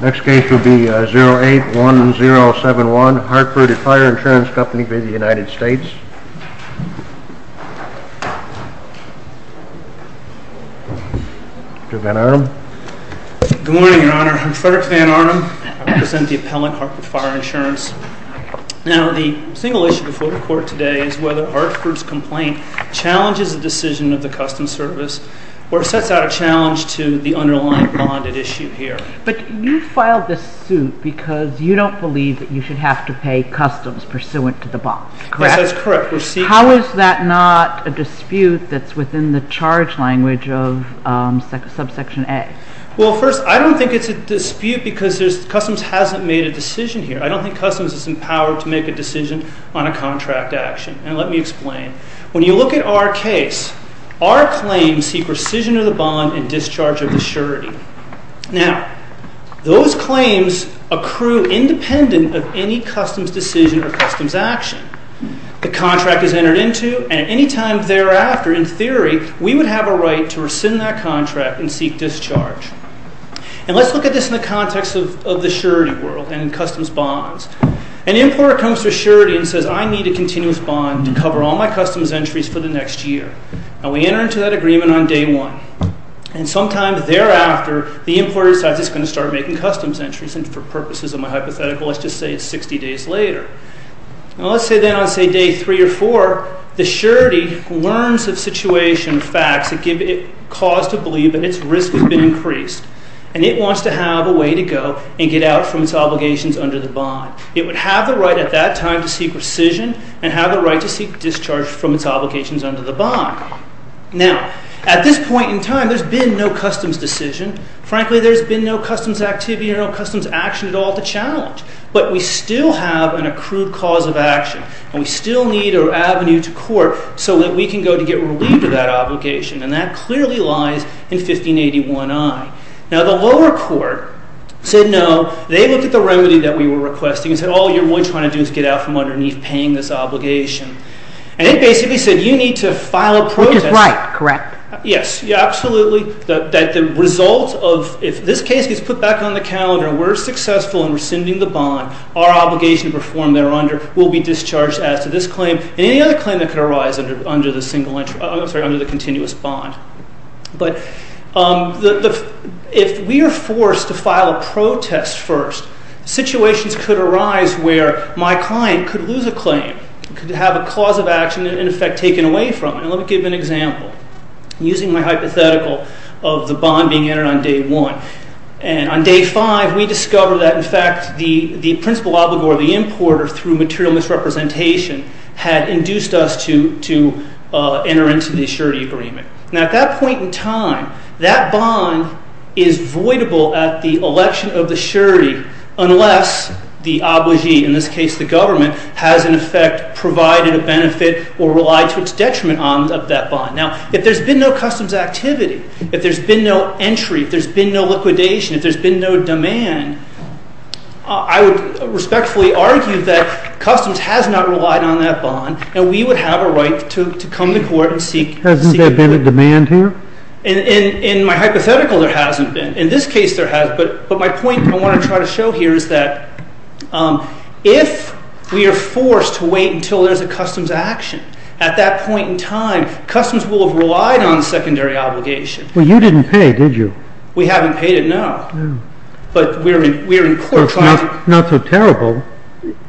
Next case will be 08-1071, Hartford Fire Insurance Company v. United States Mr. Van Arnam Good morning, your honor. I'm Frederick Van Arnam. I represent the appellant Hartford Fire Insurance Now, the single issue before the court today is whether Hartford's complaint challenges the decision of the Customs Service or sets out a challenge to the underlying bonded issue here But you filed this suit because you don't believe that you should have to pay Customs pursuant to the bond, correct? Yes, that's correct. We're seeking How is that not a dispute that's within the charge language of subsection A? Well, first, I don't think it's a dispute because Customs hasn't made a decision here I don't think Customs is empowered to make a decision on a contract action Now, let me explain. When you look at our case, our claims seek rescission of the bond and discharge of the surety Now, those claims accrue independent of any Customs decision or Customs action The contract is entered into and at any time thereafter, in theory, we would have a right to rescind that contract and seek discharge And let's look at this in the context of the surety world and Customs bonds An importer comes to a surety and says, I need a continuous bond to cover all my Customs entries for the next year Now, we enter into that agreement on day one And sometime thereafter, the importer decides he's going to start making Customs entries And for purposes of my hypothetical, let's just say it's 60 days later Now, let's say then on, say, day three or four, the surety learns of situation facts that give it cause to believe that its risk has been increased And it wants to have a way to go and get out from its obligations under the bond It would have the right at that time to seek rescission and have the right to seek discharge from its obligations under the bond Now, at this point in time, there's been no Customs decision Frankly, there's been no Customs activity or no Customs action at all to challenge But we still have an accrued cause of action And we still need an avenue to court so that we can go to get relieved of that obligation And that clearly lies in 1581I Now, the lower court said no They looked at the remedy that we were requesting And said, all you're really trying to do is get out from underneath paying this obligation And it basically said, you need to file a protest Which is right, correct Yes, absolutely That the result of, if this case gets put back on the calendar, we're successful in rescinding the bond Our obligation to perform there under will be discharged as to this claim And any other claim that could arise under the continuous bond But if we are forced to file a protest first Situations could arise where my client could lose a claim Could have a cause of action, in effect, taken away from it And let me give you an example Using my hypothetical of the bond being entered on day one And on day five, we discover that, in fact, the principal obligor, the importer Through material misrepresentation Had induced us to enter into the surety agreement Now, at that point in time That bond is voidable at the election of the surety Unless the obligee, in this case the government Has, in effect, provided a benefit or relied to its detriment on that bond Now, if there's been no customs activity If there's been no entry If there's been no liquidation If there's been no demand I would respectfully argue that customs has not relied on that bond And we would have a right to come to court and seek Hasn't there been a demand here? In my hypothetical, there hasn't been In this case, there has But my point I want to try to show here is that If we are forced to wait until there's a customs action At that point in time Customs will have relied on secondary obligation Well, you didn't pay, did you? We haven't paid it, no But we're in court trial It's not so terrible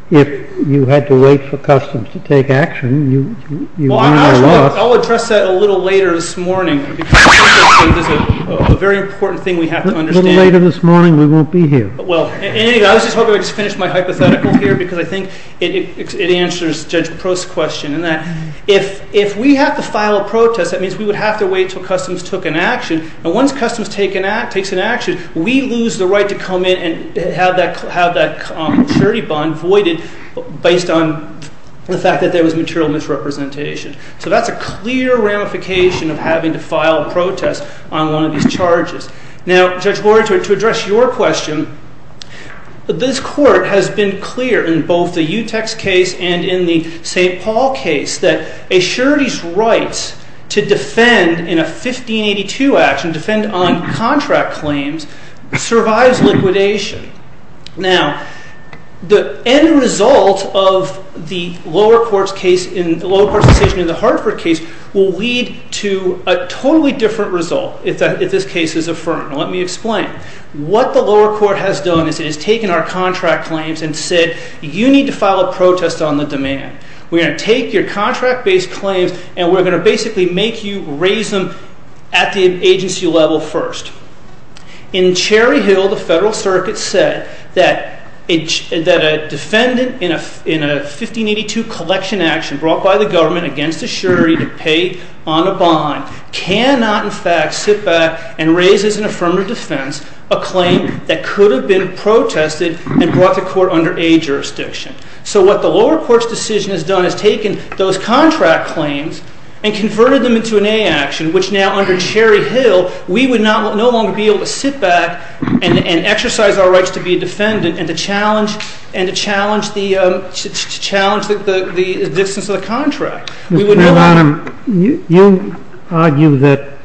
If you had to wait for customs to take action Well, actually, I'll address that a little later this morning Because I think there's a very important thing we have to understand A little later this morning, we won't be here Well, anyway, I was just hoping I would finish my hypothetical here Because I think it answers Judge Leprose's question In that, if we have to file a protest That means we would have to wait until customs took an action And once customs takes an action We lose the right to come in And have that surety bond voided Based on the fact that there was material misrepresentation So that's a clear ramification of having to file a protest On one of these charges Now, Judge Gordy, to address your question This court has been clear in both the Utex case And in the St. Paul case That a surety's right to defend in a 1582 action And defend on contract claims Survives liquidation Now, the end result of the lower court's decision In the Hartford case Will lead to a totally different result If this case is affirmed Let me explain What the lower court has done Is it has taken our contract claims And said, you need to file a protest on the demand We're going to take your contract-based claims And we're going to basically make you raise them At the agency level first In Cherry Hill, the Federal Circuit said That a defendant in a 1582 collection action Brought by the government against a surety To pay on a bond Cannot in fact sit back And raise as an affirmative defense A claim that could have been protested And brought to court under A jurisdiction So what the lower court's decision has done Is taken those contract claims And converted them into an A action Which now under Cherry Hill We would no longer be able to sit back And exercise our rights to be a defendant And to challenge the existence of the contract We would no longer You argue that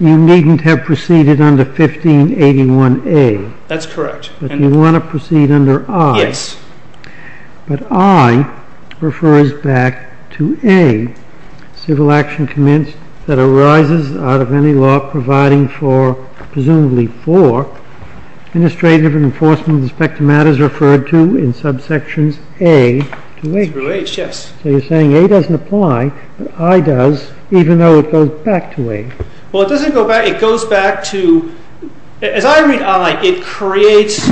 you needn't have proceeded under 1581A That's correct But you want to proceed under I Yes But I refers back to A Civil action commenced That arises out of any law providing for Presumably for Administrative enforcement with respect to matters Referred to in subsections A to H Through H, yes So you're saying A doesn't apply But I does Even though it goes back to A Well it doesn't go back It goes back to As I read I It creates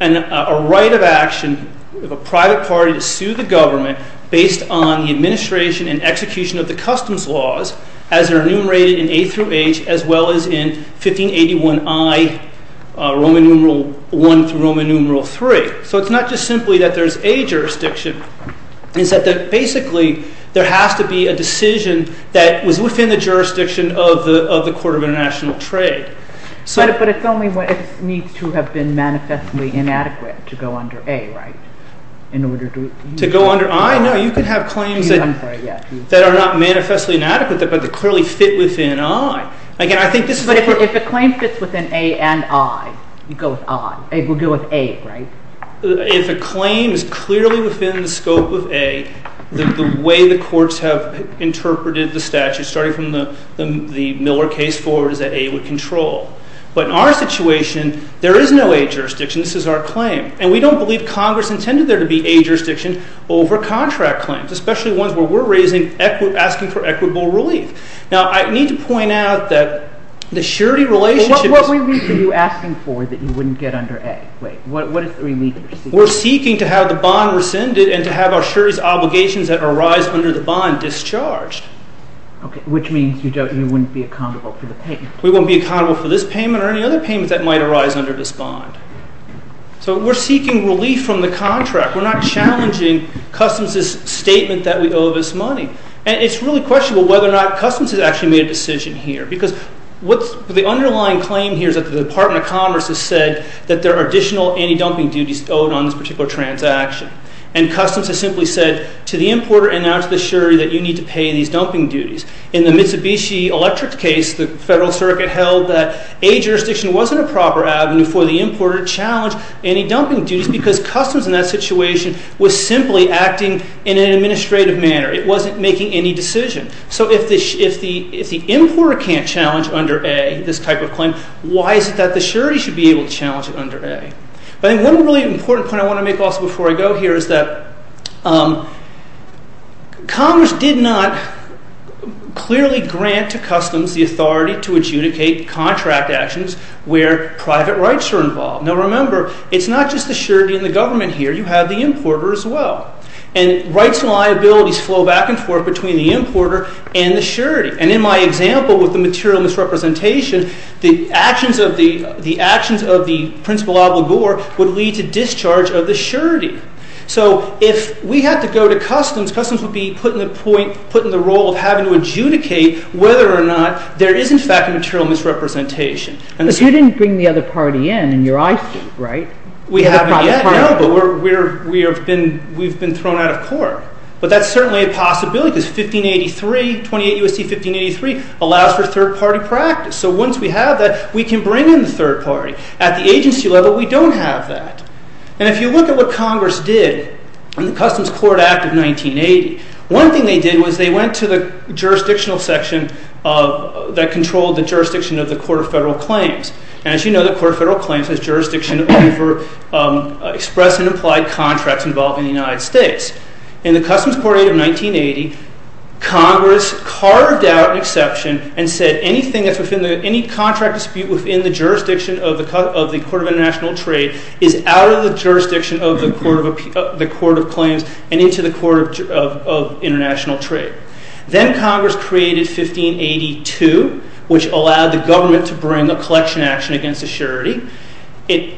a right of action Of a private party to sue the government Based on the administration and execution of the customs laws As are enumerated in A through H As well as in 1581I Roman numeral I through Roman numeral III So it's not just simply that there's A jurisdiction It's that basically There has to be a decision That was within the jurisdiction of the Court of International Trade But it's only what needs to have been manifestly inadequate To go under A, right In order to To go under I, no You can have claims that That are not manifestly inadequate But that clearly fit within I Again I think this is But if a claim fits within A and I You go with I We'll go with A, right If a claim is clearly within the scope of A The way the courts have Interpreted the statute Starting from the Miller case forward Is that A would control But in our situation There is no A jurisdiction This is our claim And we don't believe Congress intended there to be A jurisdiction over contract claims Especially ones where we're raising Asking for equitable relief Now I need to point out that The surety relationship What relief are you asking for That you wouldn't get under A Wait, what is the relief you're seeking We're seeking to have the bond rescinded And to have our surety's obligations That arise under the bond discharged Okay, which means you don't You wouldn't be accountable for the payment We won't be accountable for this payment Or any other payment that might arise under this bond So we're seeking relief from the contract We're not challenging Customs' statement that we owe this money And it's really questionable Whether or not Customs has actually made a decision here Because what's The underlying claim here Is that the Department of Commerce has said That there are additional anti-dumping duties Owed on this particular transaction And Customs has simply said To the importer and now to the surety That you need to pay these dumping duties In the Mitsubishi Electric case The Federal Circuit held that A jurisdiction wasn't a proper avenue For the importer to challenge Anti-dumping duties Because Customs in that situation Was simply acting in an administrative manner It wasn't making any decision So if the importer can't challenge under A This type of claim Why is it that the surety Should be able to challenge it under A? But one really important point I want to make also before I go here Is that Commerce did not clearly grant to Customs The authority to adjudicate contract actions Where private rights are involved Now remember It's not just the surety and the government here You have the importer as well And rights and liabilities flow back and forth Between the importer and the surety And in my example With the material misrepresentation The actions of the principal obligor Would lead to discharge of the surety So if we had to go to Customs Customs would be put in the role Of having to adjudicate Whether or not there is in fact A material misrepresentation But you didn't bring the other party in We haven't yet But we've been thrown out of court But that's certainly a possibility Because 1583 28 U.S.C. 1583 Allows for third party practice So once we have that We can bring in the third party At the agency level We don't have that And if you look at what Congress did In the Customs Court Act of 1980 One thing they did Was they went to the jurisdictional section That controlled the jurisdiction Of the Court of Federal Claims And as you know The Court of Federal Claims Has jurisdiction over Express and implied contracts Involving the United States In the Customs Court Act of 1980 Congress carved out an exception And said anything that's within Any contract dispute Within the jurisdiction Of the Court of International Trade Is out of the jurisdiction Of the Court of Claims And into the Court of International Trade Then Congress created 1582 Which allowed the government To bring a collection action Against assurity It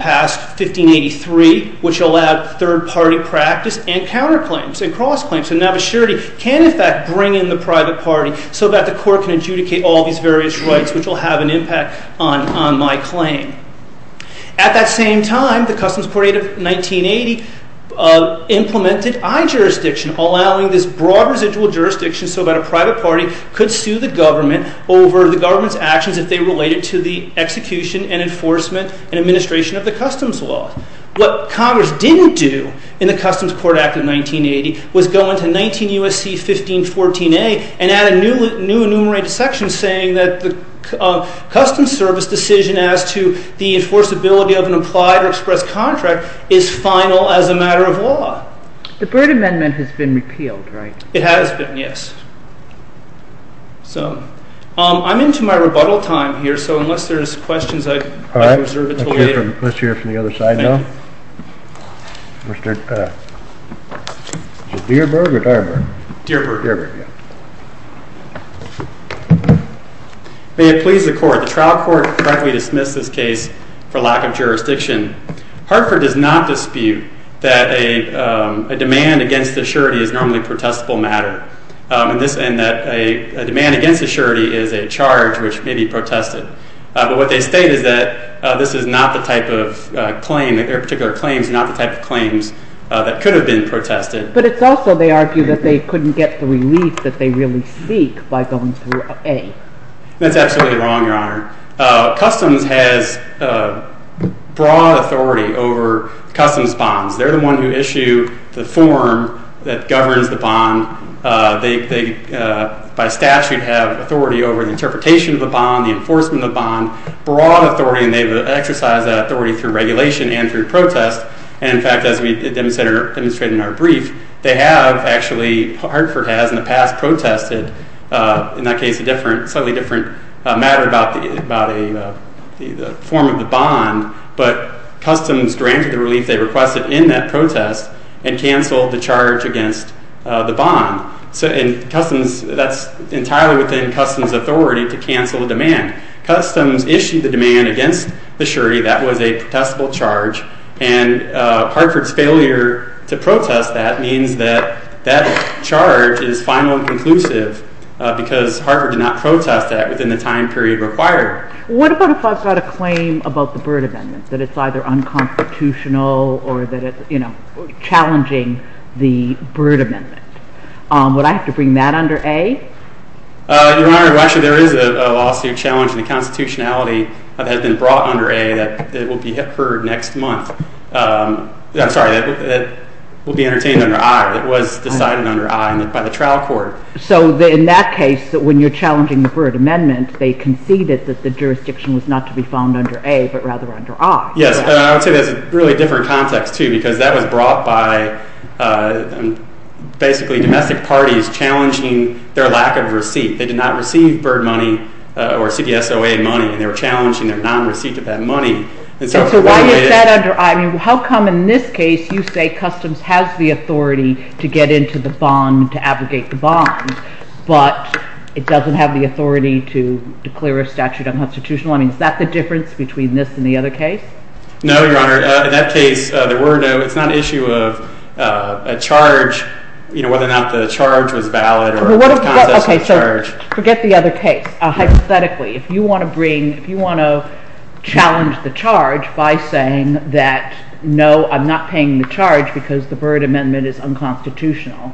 passed 1583 Which allowed third party practice And counter claims And cross claims And now assurity Can in fact bring in the private party So that the court can adjudicate All these various rights Which will have an impact On my claim At that same time The Customs Court Act of 1980 Implemented i-jurisdiction Allowing this broad residual jurisdiction So that a private party Could sue the government Over the government's actions If they related to the execution And enforcement And administration Of the Customs Law What Congress didn't do In the Customs Court Act of 1980 Was go into 19 U.S.C. 1514a And add a new enumerated section Saying that the Customs Service decision As to the enforceability Of an implied or express contract Is final as a matter of law The Byrd Amendment Has been repealed, right? It has been, yes So I'm into my rebuttal time here So unless there's questions I reserve it until later Let's hear it from the other side now Is it Dearburg or Dyerburg? Dearburg May it please the court The trial court Correctly dismissed this case For lack of jurisdiction Hartford does not dispute That a demand against assurity Is normally a protestable matter And that a demand against assurity Is a charge which may be protested But what they state is that This is not the type of claim That there are particular claims Not the type of claims That could have been protested But it's also, they argue That they couldn't get the relief That they really seek By going through A That's absolutely wrong, Your Honor Customs has broad authority Over customs bonds They're the one who issue the form That governs the bond They, by statute Have authority over The interpretation of the bond The enforcement of the bond Broad authority And they've exercised that authority Through regulation and through protest And in fact, as we demonstrated In our brief They have actually Hartford has in the past Protested, in that case A slightly different matter About the form of the bond But customs granted the relief They requested in that protest And canceled the charge Against the bond And customs That's entirely within Customs authority To cancel the demand Customs issued the demand Against the surety That was a protestable charge And Hartford's failure To protest that Means that that charge Is final and conclusive Because Hartford did not Protest that Within the time period required What about if I've got a claim About the Bird Amendment That it's either unconstitutional Or that it's, you know Challenging the Bird Amendment Would I have to bring that under A? Your Honor, well actually There is a lawsuit challenging The constitutionality That has been brought under A That will be heard next month I'm sorry That will be entertained under I That was decided under I By the trial court So in that case When you're challenging The Bird Amendment They conceded that the jurisdiction Was not to be found under A But rather under I Yes, and I would say That's a really different context too Because that was brought by Basically domestic parties Challenging their lack of receipt They did not receive bird money Or CPSOA money And they were challenging Their non-receipt of that money So why is that under I? I mean how come in this case You say customs has the authority To get into the bond To abrogate the bond But it doesn't have the authority To declare a statute unconstitutional I mean is that the difference Between this and the other case? No, your honor In that case There were no It's not an issue of A charge You know whether or not The charge was valid Or the process of the charge Forget the other case Hypothetically If you want to bring If you want to challenge the charge By saying that No, I'm not paying the charge Because the Bird Amendment Is unconstitutional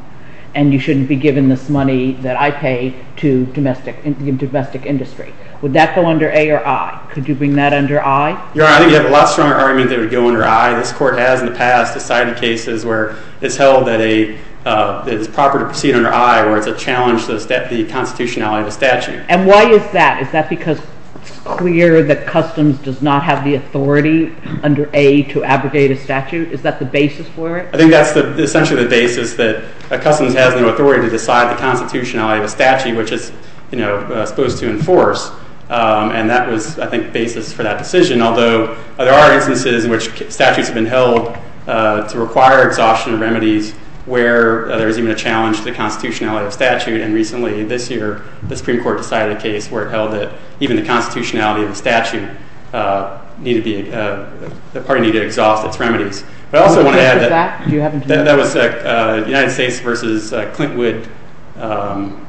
And you shouldn't be given This money that I pay To domestic industry Would that go under A or I? Could you bring that under I? Your honor I think you have a lot stronger argument That it would go under I This court has in the past Decided cases where It's held that a It is proper to proceed under I Where it's a challenge To the constitutionality of a statute And why is that? Is that because It's clear that customs Does not have the authority Under A to abrogate a statute Is that the basis for it? I think that's the Essentially the basis that Customs has the authority To decide the constitutionality Of a statute Which is you know Supposed to enforce And that was I think The basis for that decision Although there are instances In which statutes have been held To require exhaustion of remedies Where there is even a challenge To the constitutionality of a statute And recently this year The Supreme Court decided a case Where it held that Even the constitutionality of a statute Needed to be The party needed to exhaust its remedies But I also want to add That was United States Versus Clintwood And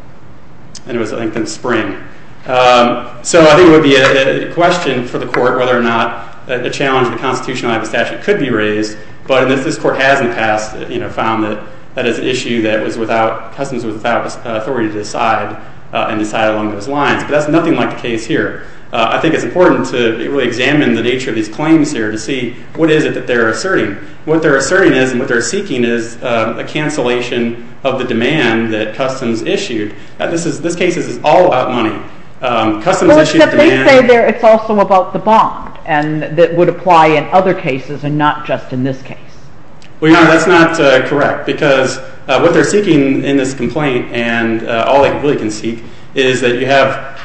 it was I think in spring So I think it would be A question for the court Whether or not a challenge To the constitutionality of a statute Could be raised But if this court hasn't passed You know found that That is an issue that was without Customs without authority To decide And decide along those lines But that's nothing like the case here I think it's important to Really examine the nature Of these claims here To see what is it That they're asserting What they're asserting is And what they're seeking is A cancellation of the demand That customs issued This case is all about money Customs issued a demand But here it's also about the bond And that would apply in other cases And not just in this case Well your honor that's not correct Because what they're seeking In this complaint And all they really can seek Is that you have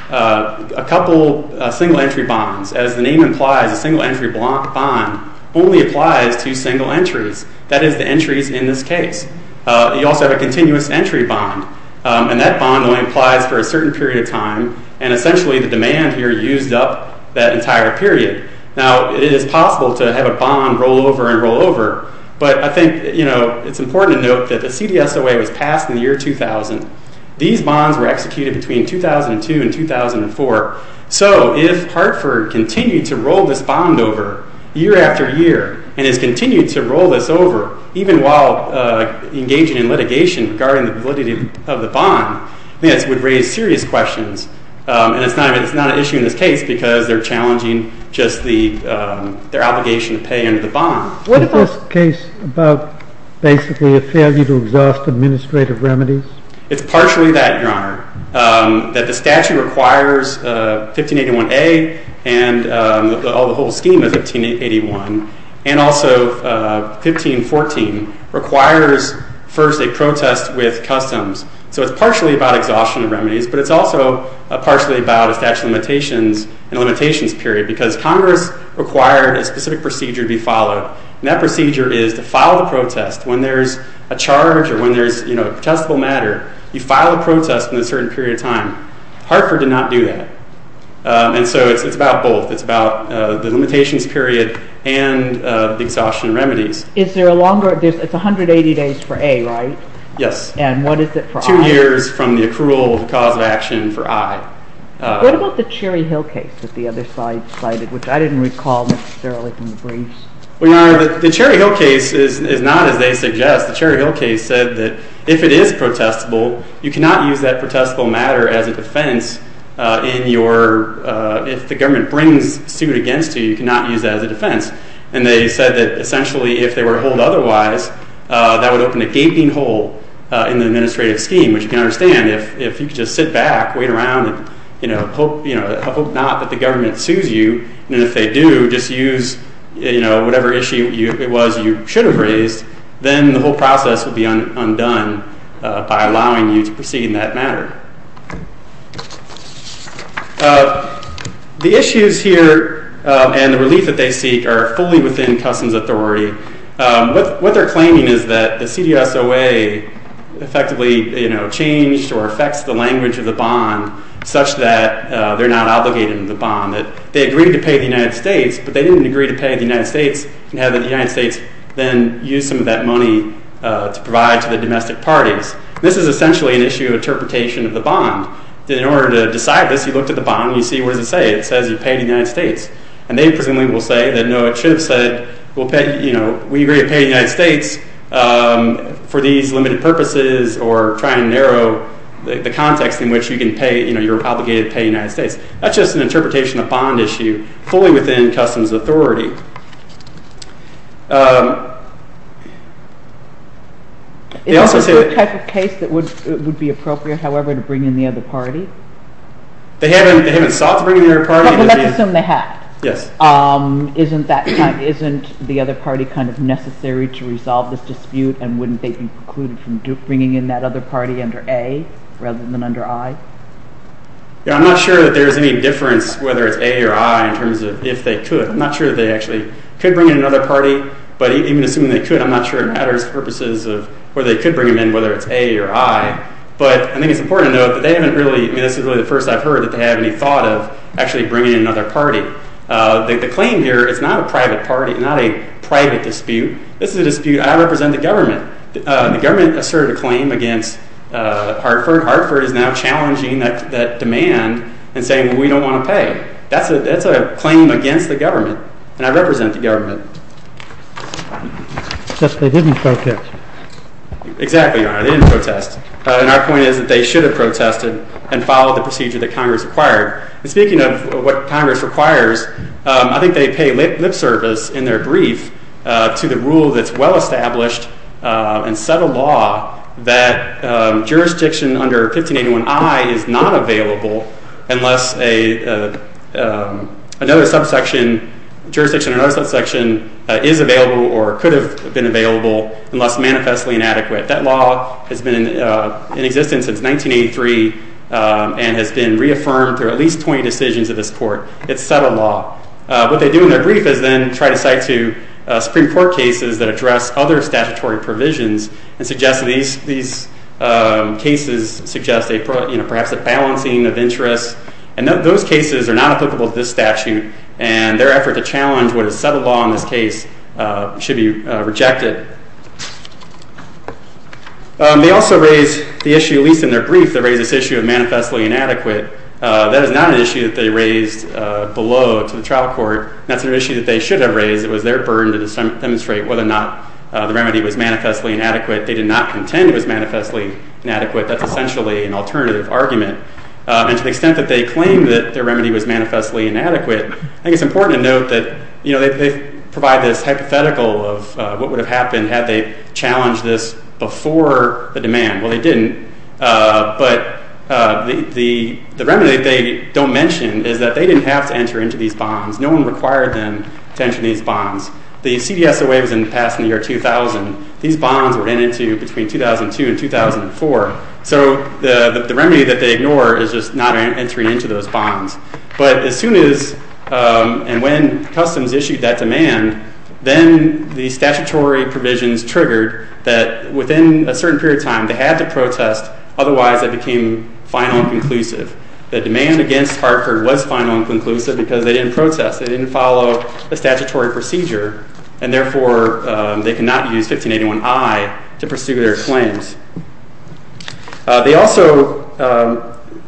A couple single entry bonds As the name implies A single entry bond Only applies to single entries That is the entries in this case You also have a continuous entry bond And that bond only applies For a certain period of time And essentially the demand here Used up that entire period Now it is possible to have a bond Roll over and roll over But I think you know It's important to note That the CDSOA was passed In the year 2000 These bonds were executed Between 2002 and 2004 So if Hartford continued To roll this bond over Year after year And has continued to roll this over Even while engaging in litigation Regarding the validity of the bond This would raise serious questions And it's not an issue In this case because They're challenging Just their obligation To pay into the bond Is this case about Basically a failure To exhaust administrative remedies It's partially that your honor That the statute requires 1581A And the whole scheme of 1581 And also 1514 Requires first a protest With customs So it's partially about Exhaustion of remedies But it's also partially about The statute of limitations And limitations period Because Congress required A specific procedure to be followed And that procedure is To file the protest When there's a charge Or when there's You know a protestable matter You file a protest In a certain period of time Hartford did not do that And so it's about both It's about the limitations period And the exhaustion of remedies Is there a longer It's 180 days for A right? Yes And what is it for I? Two years from the accrual Cause of action for I What about the Cherry Hill case That the other side cited Which I didn't recall Necessarily from the briefs Well your honor The Cherry Hill case Is not as they suggest The Cherry Hill case said That if it is protestable You cannot use That protestable matter As a defense In your If the government Brings suit against you You cannot use that As a defense And they said That essentially If they were to hold otherwise That would open a gaping hole In the administrative scheme Which you can understand If you could just sit back Wait around You know Hope you know Hope not that the government Sues you And if they do Just use You know Whatever issue it was You should have raised Then the whole process Would be undone By allowing you To proceed in that matter The issues here And the relief that they seek Are fully within Customs authority What they're claiming Is that the CDSOA Effectively You know Changed Or affects the language Of the bond And the Such that They're not obligated To the bond They agreed to pay The United States But they didn't agree To pay the United States And have the United States Then use some of that money To provide to the domestic parties This is essentially An issue of interpretation Of the bond In order to decide this You look at the bond And you see What does it say It says you pay The United States And they presumably Will say No it should have said We agree to pay The United States For these limited purposes Or try and narrow The context In which you can pay You know you're obligated To pay the United States That's just an interpretation Of bond issue Fully within Customs authority They also say Is this a type of case That would be appropriate However to bring in The other party They haven't They haven't sought To bring in The other party But let's assume They have Yes Isn't that Isn't the other party Kind of necessary To resolve this dispute And wouldn't they Be precluded From bringing in That other party Under A Rather than Under I Yeah I'm not sure That there's any difference Whether it's A or I In terms of If they could I'm not sure That they actually Could bring in Another party But even assuming They could I'm not sure It matters For purposes of Whether they could Bring them in Whether it's A or I But I think it's important To note That they haven't really I mean this is really The first I've heard That they have any Thought of Actually bringing In another party The claim here Is not a private party Not a private dispute This is a dispute And I represent The government The government asserted A claim against Hartford Hartford is now Challenging that Demand And saying We don't want to pay That's a claim Against the government And I represent The government Just they didn't protest Exactly They didn't protest And our point is That they should have Protested And followed the Procedure that Congress required And speaking of What Congress requires I think they pay Lip service In their brief To the rule That's well established And set a law That jurisdiction Under 1581I Is not available Unless A Another subsection Jurisdiction Another subsection Is available Or could have Been available Unless manifestly Inadequate That law Has been In existence Since 1983 And has been Reaffirmed Through at least 20 decisions Of this court It's set a law What they do In their brief Is then Try to cite To Supreme Court Cases that address Other statutory Provisions And suggest These These Cases Suggest Perhaps a Balancing of Interests And those cases Are not applicable To this statute And their effort To challenge What is set a law In this case Should be Rejected They also Raise the issue At least in their Brief Of manifestly Inadequate That is not An issue that they Raised below To the trial Court That's an issue That they should Have raised It was their Burden to Demonstrate Whether or not The remedy Was manifestly Inadequate They did not Contend It was manifestly Inadequate That's essentially An alternative Argument And to the Extent that they Claim that their Remedy was Manifestly Inadequate I think it's The remedy That they Don't mention Is that they Didn't have to Enter into These bonds No one Required them To enter Into these Bonds The CDSOA Was passed In the year 2000 These bonds Were entered Into between 2002 And 2004 So the Remedy That they Ignore Is just Not entering Into those Bonds But as Soon as And when Customs issued That demand Then the Statutory Provisions Triggered That within A certain Period of Time They had To protest Otherwise It became Final and Conclusive The demand Against Hartford Was final and Conclusive Because they Didn't protest They didn't Follow the Statutory Procedure And therefore They could Not use 1581I To pursue Their claims They also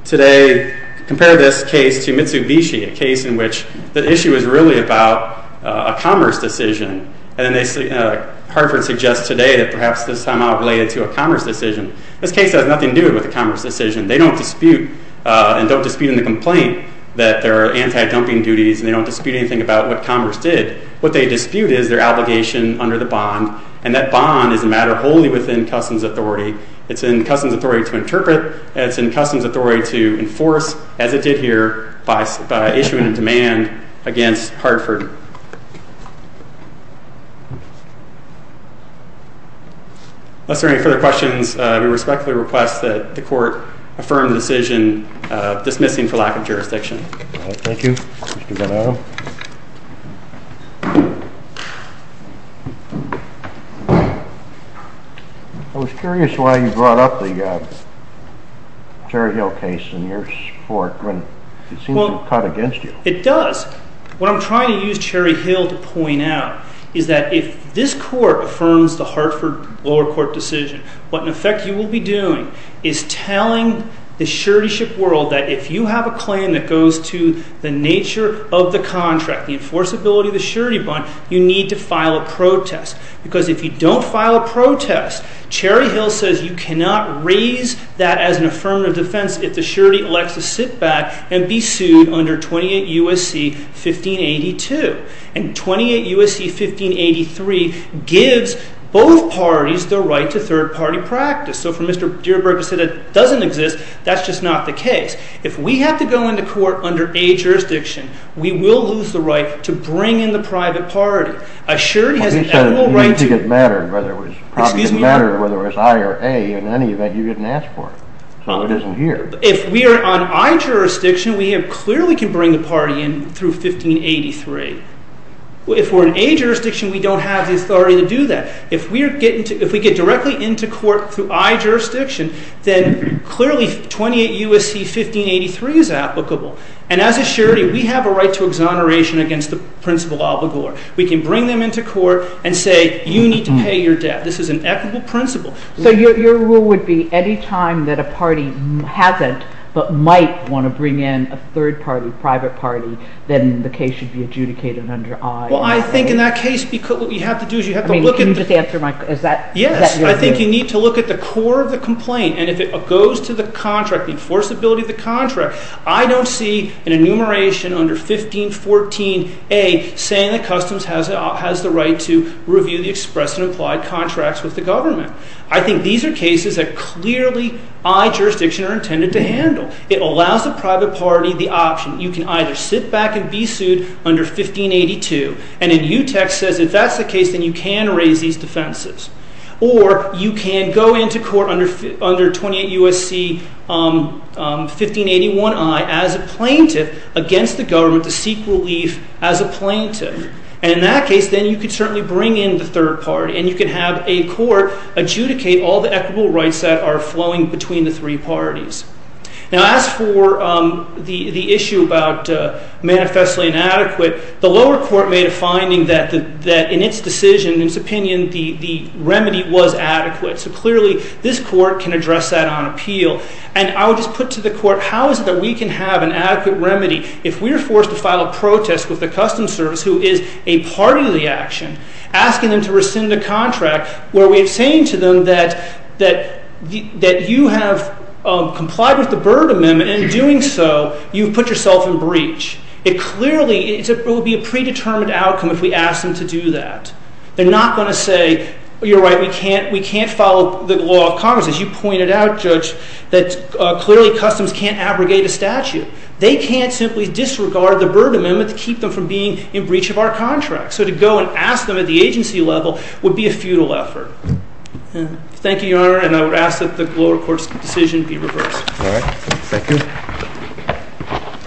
Today Compare this Case to Mitsubishi A case in Which the Issue was Really about A commerce Decision And Hartford Suggests today That perhaps This is somehow Related to A commerce Decision This case Has nothing To do with A commerce Decision They don't Dispute And don't Dispute in The complaint That there are Anti-dumping Duties and They don't Dispute anything About what Commerce did What they Dispute is Under the Bond And that Bond is a Matter wholly Within customs Authority It's in Customs Authority To interpret And it's in Customs Authority To enforce As it did Here by Issuing a Demand Against Hartford Unless There are Any further Questions We respectfully Request that The court Affirm the Decision Dismissing for Lack of Jurisdiction Thank you Mr. Van Adam I was Curious why You brought Up the Cherry Hill case In your Court When it Seems to Cut against You It does What I'm Trying to use Cherry Hill to Point out Is that If this Court Affirms the Hartford Lower Court Decision What in Effect you Will be Doing is Telling the Surety ship World that If you Have a Right to Third Party Practice If we Have to Go into Court Under a Jurisdiction We will Lose the Right to Bring in The private Party I Sure Didn't matter Whether it Was I or A In any Event You didn't Ask for It Isn't Here To Handle It Allows the Private Party The Option You can Sit back And be Sued Under 1582 And If that Is the Case You Can Raise The Defense Or You Can Go Into Court Under 1581 As A Plaintiff Against The Government To Seek Relief As A Plaintiff And You Can Have A Court Adjudicate All The Equitable Rights That Are Flowing Between The Three Parties As For The Issue About Manifestly Inadequate The Lower Court Made A Decision That The Remedy Was Adequate So Clearly This Court Can Address That And I Would Just Put To The Court How Is It That We Can Have An Adequate Remedy If We Are Forced To File A Protest With The Lower Court And How Is It That We Can Address That And I Would Just Put To The Court How Is It Put To The Court How Is It That We Can Address That And I Would Just Put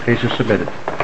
To The Court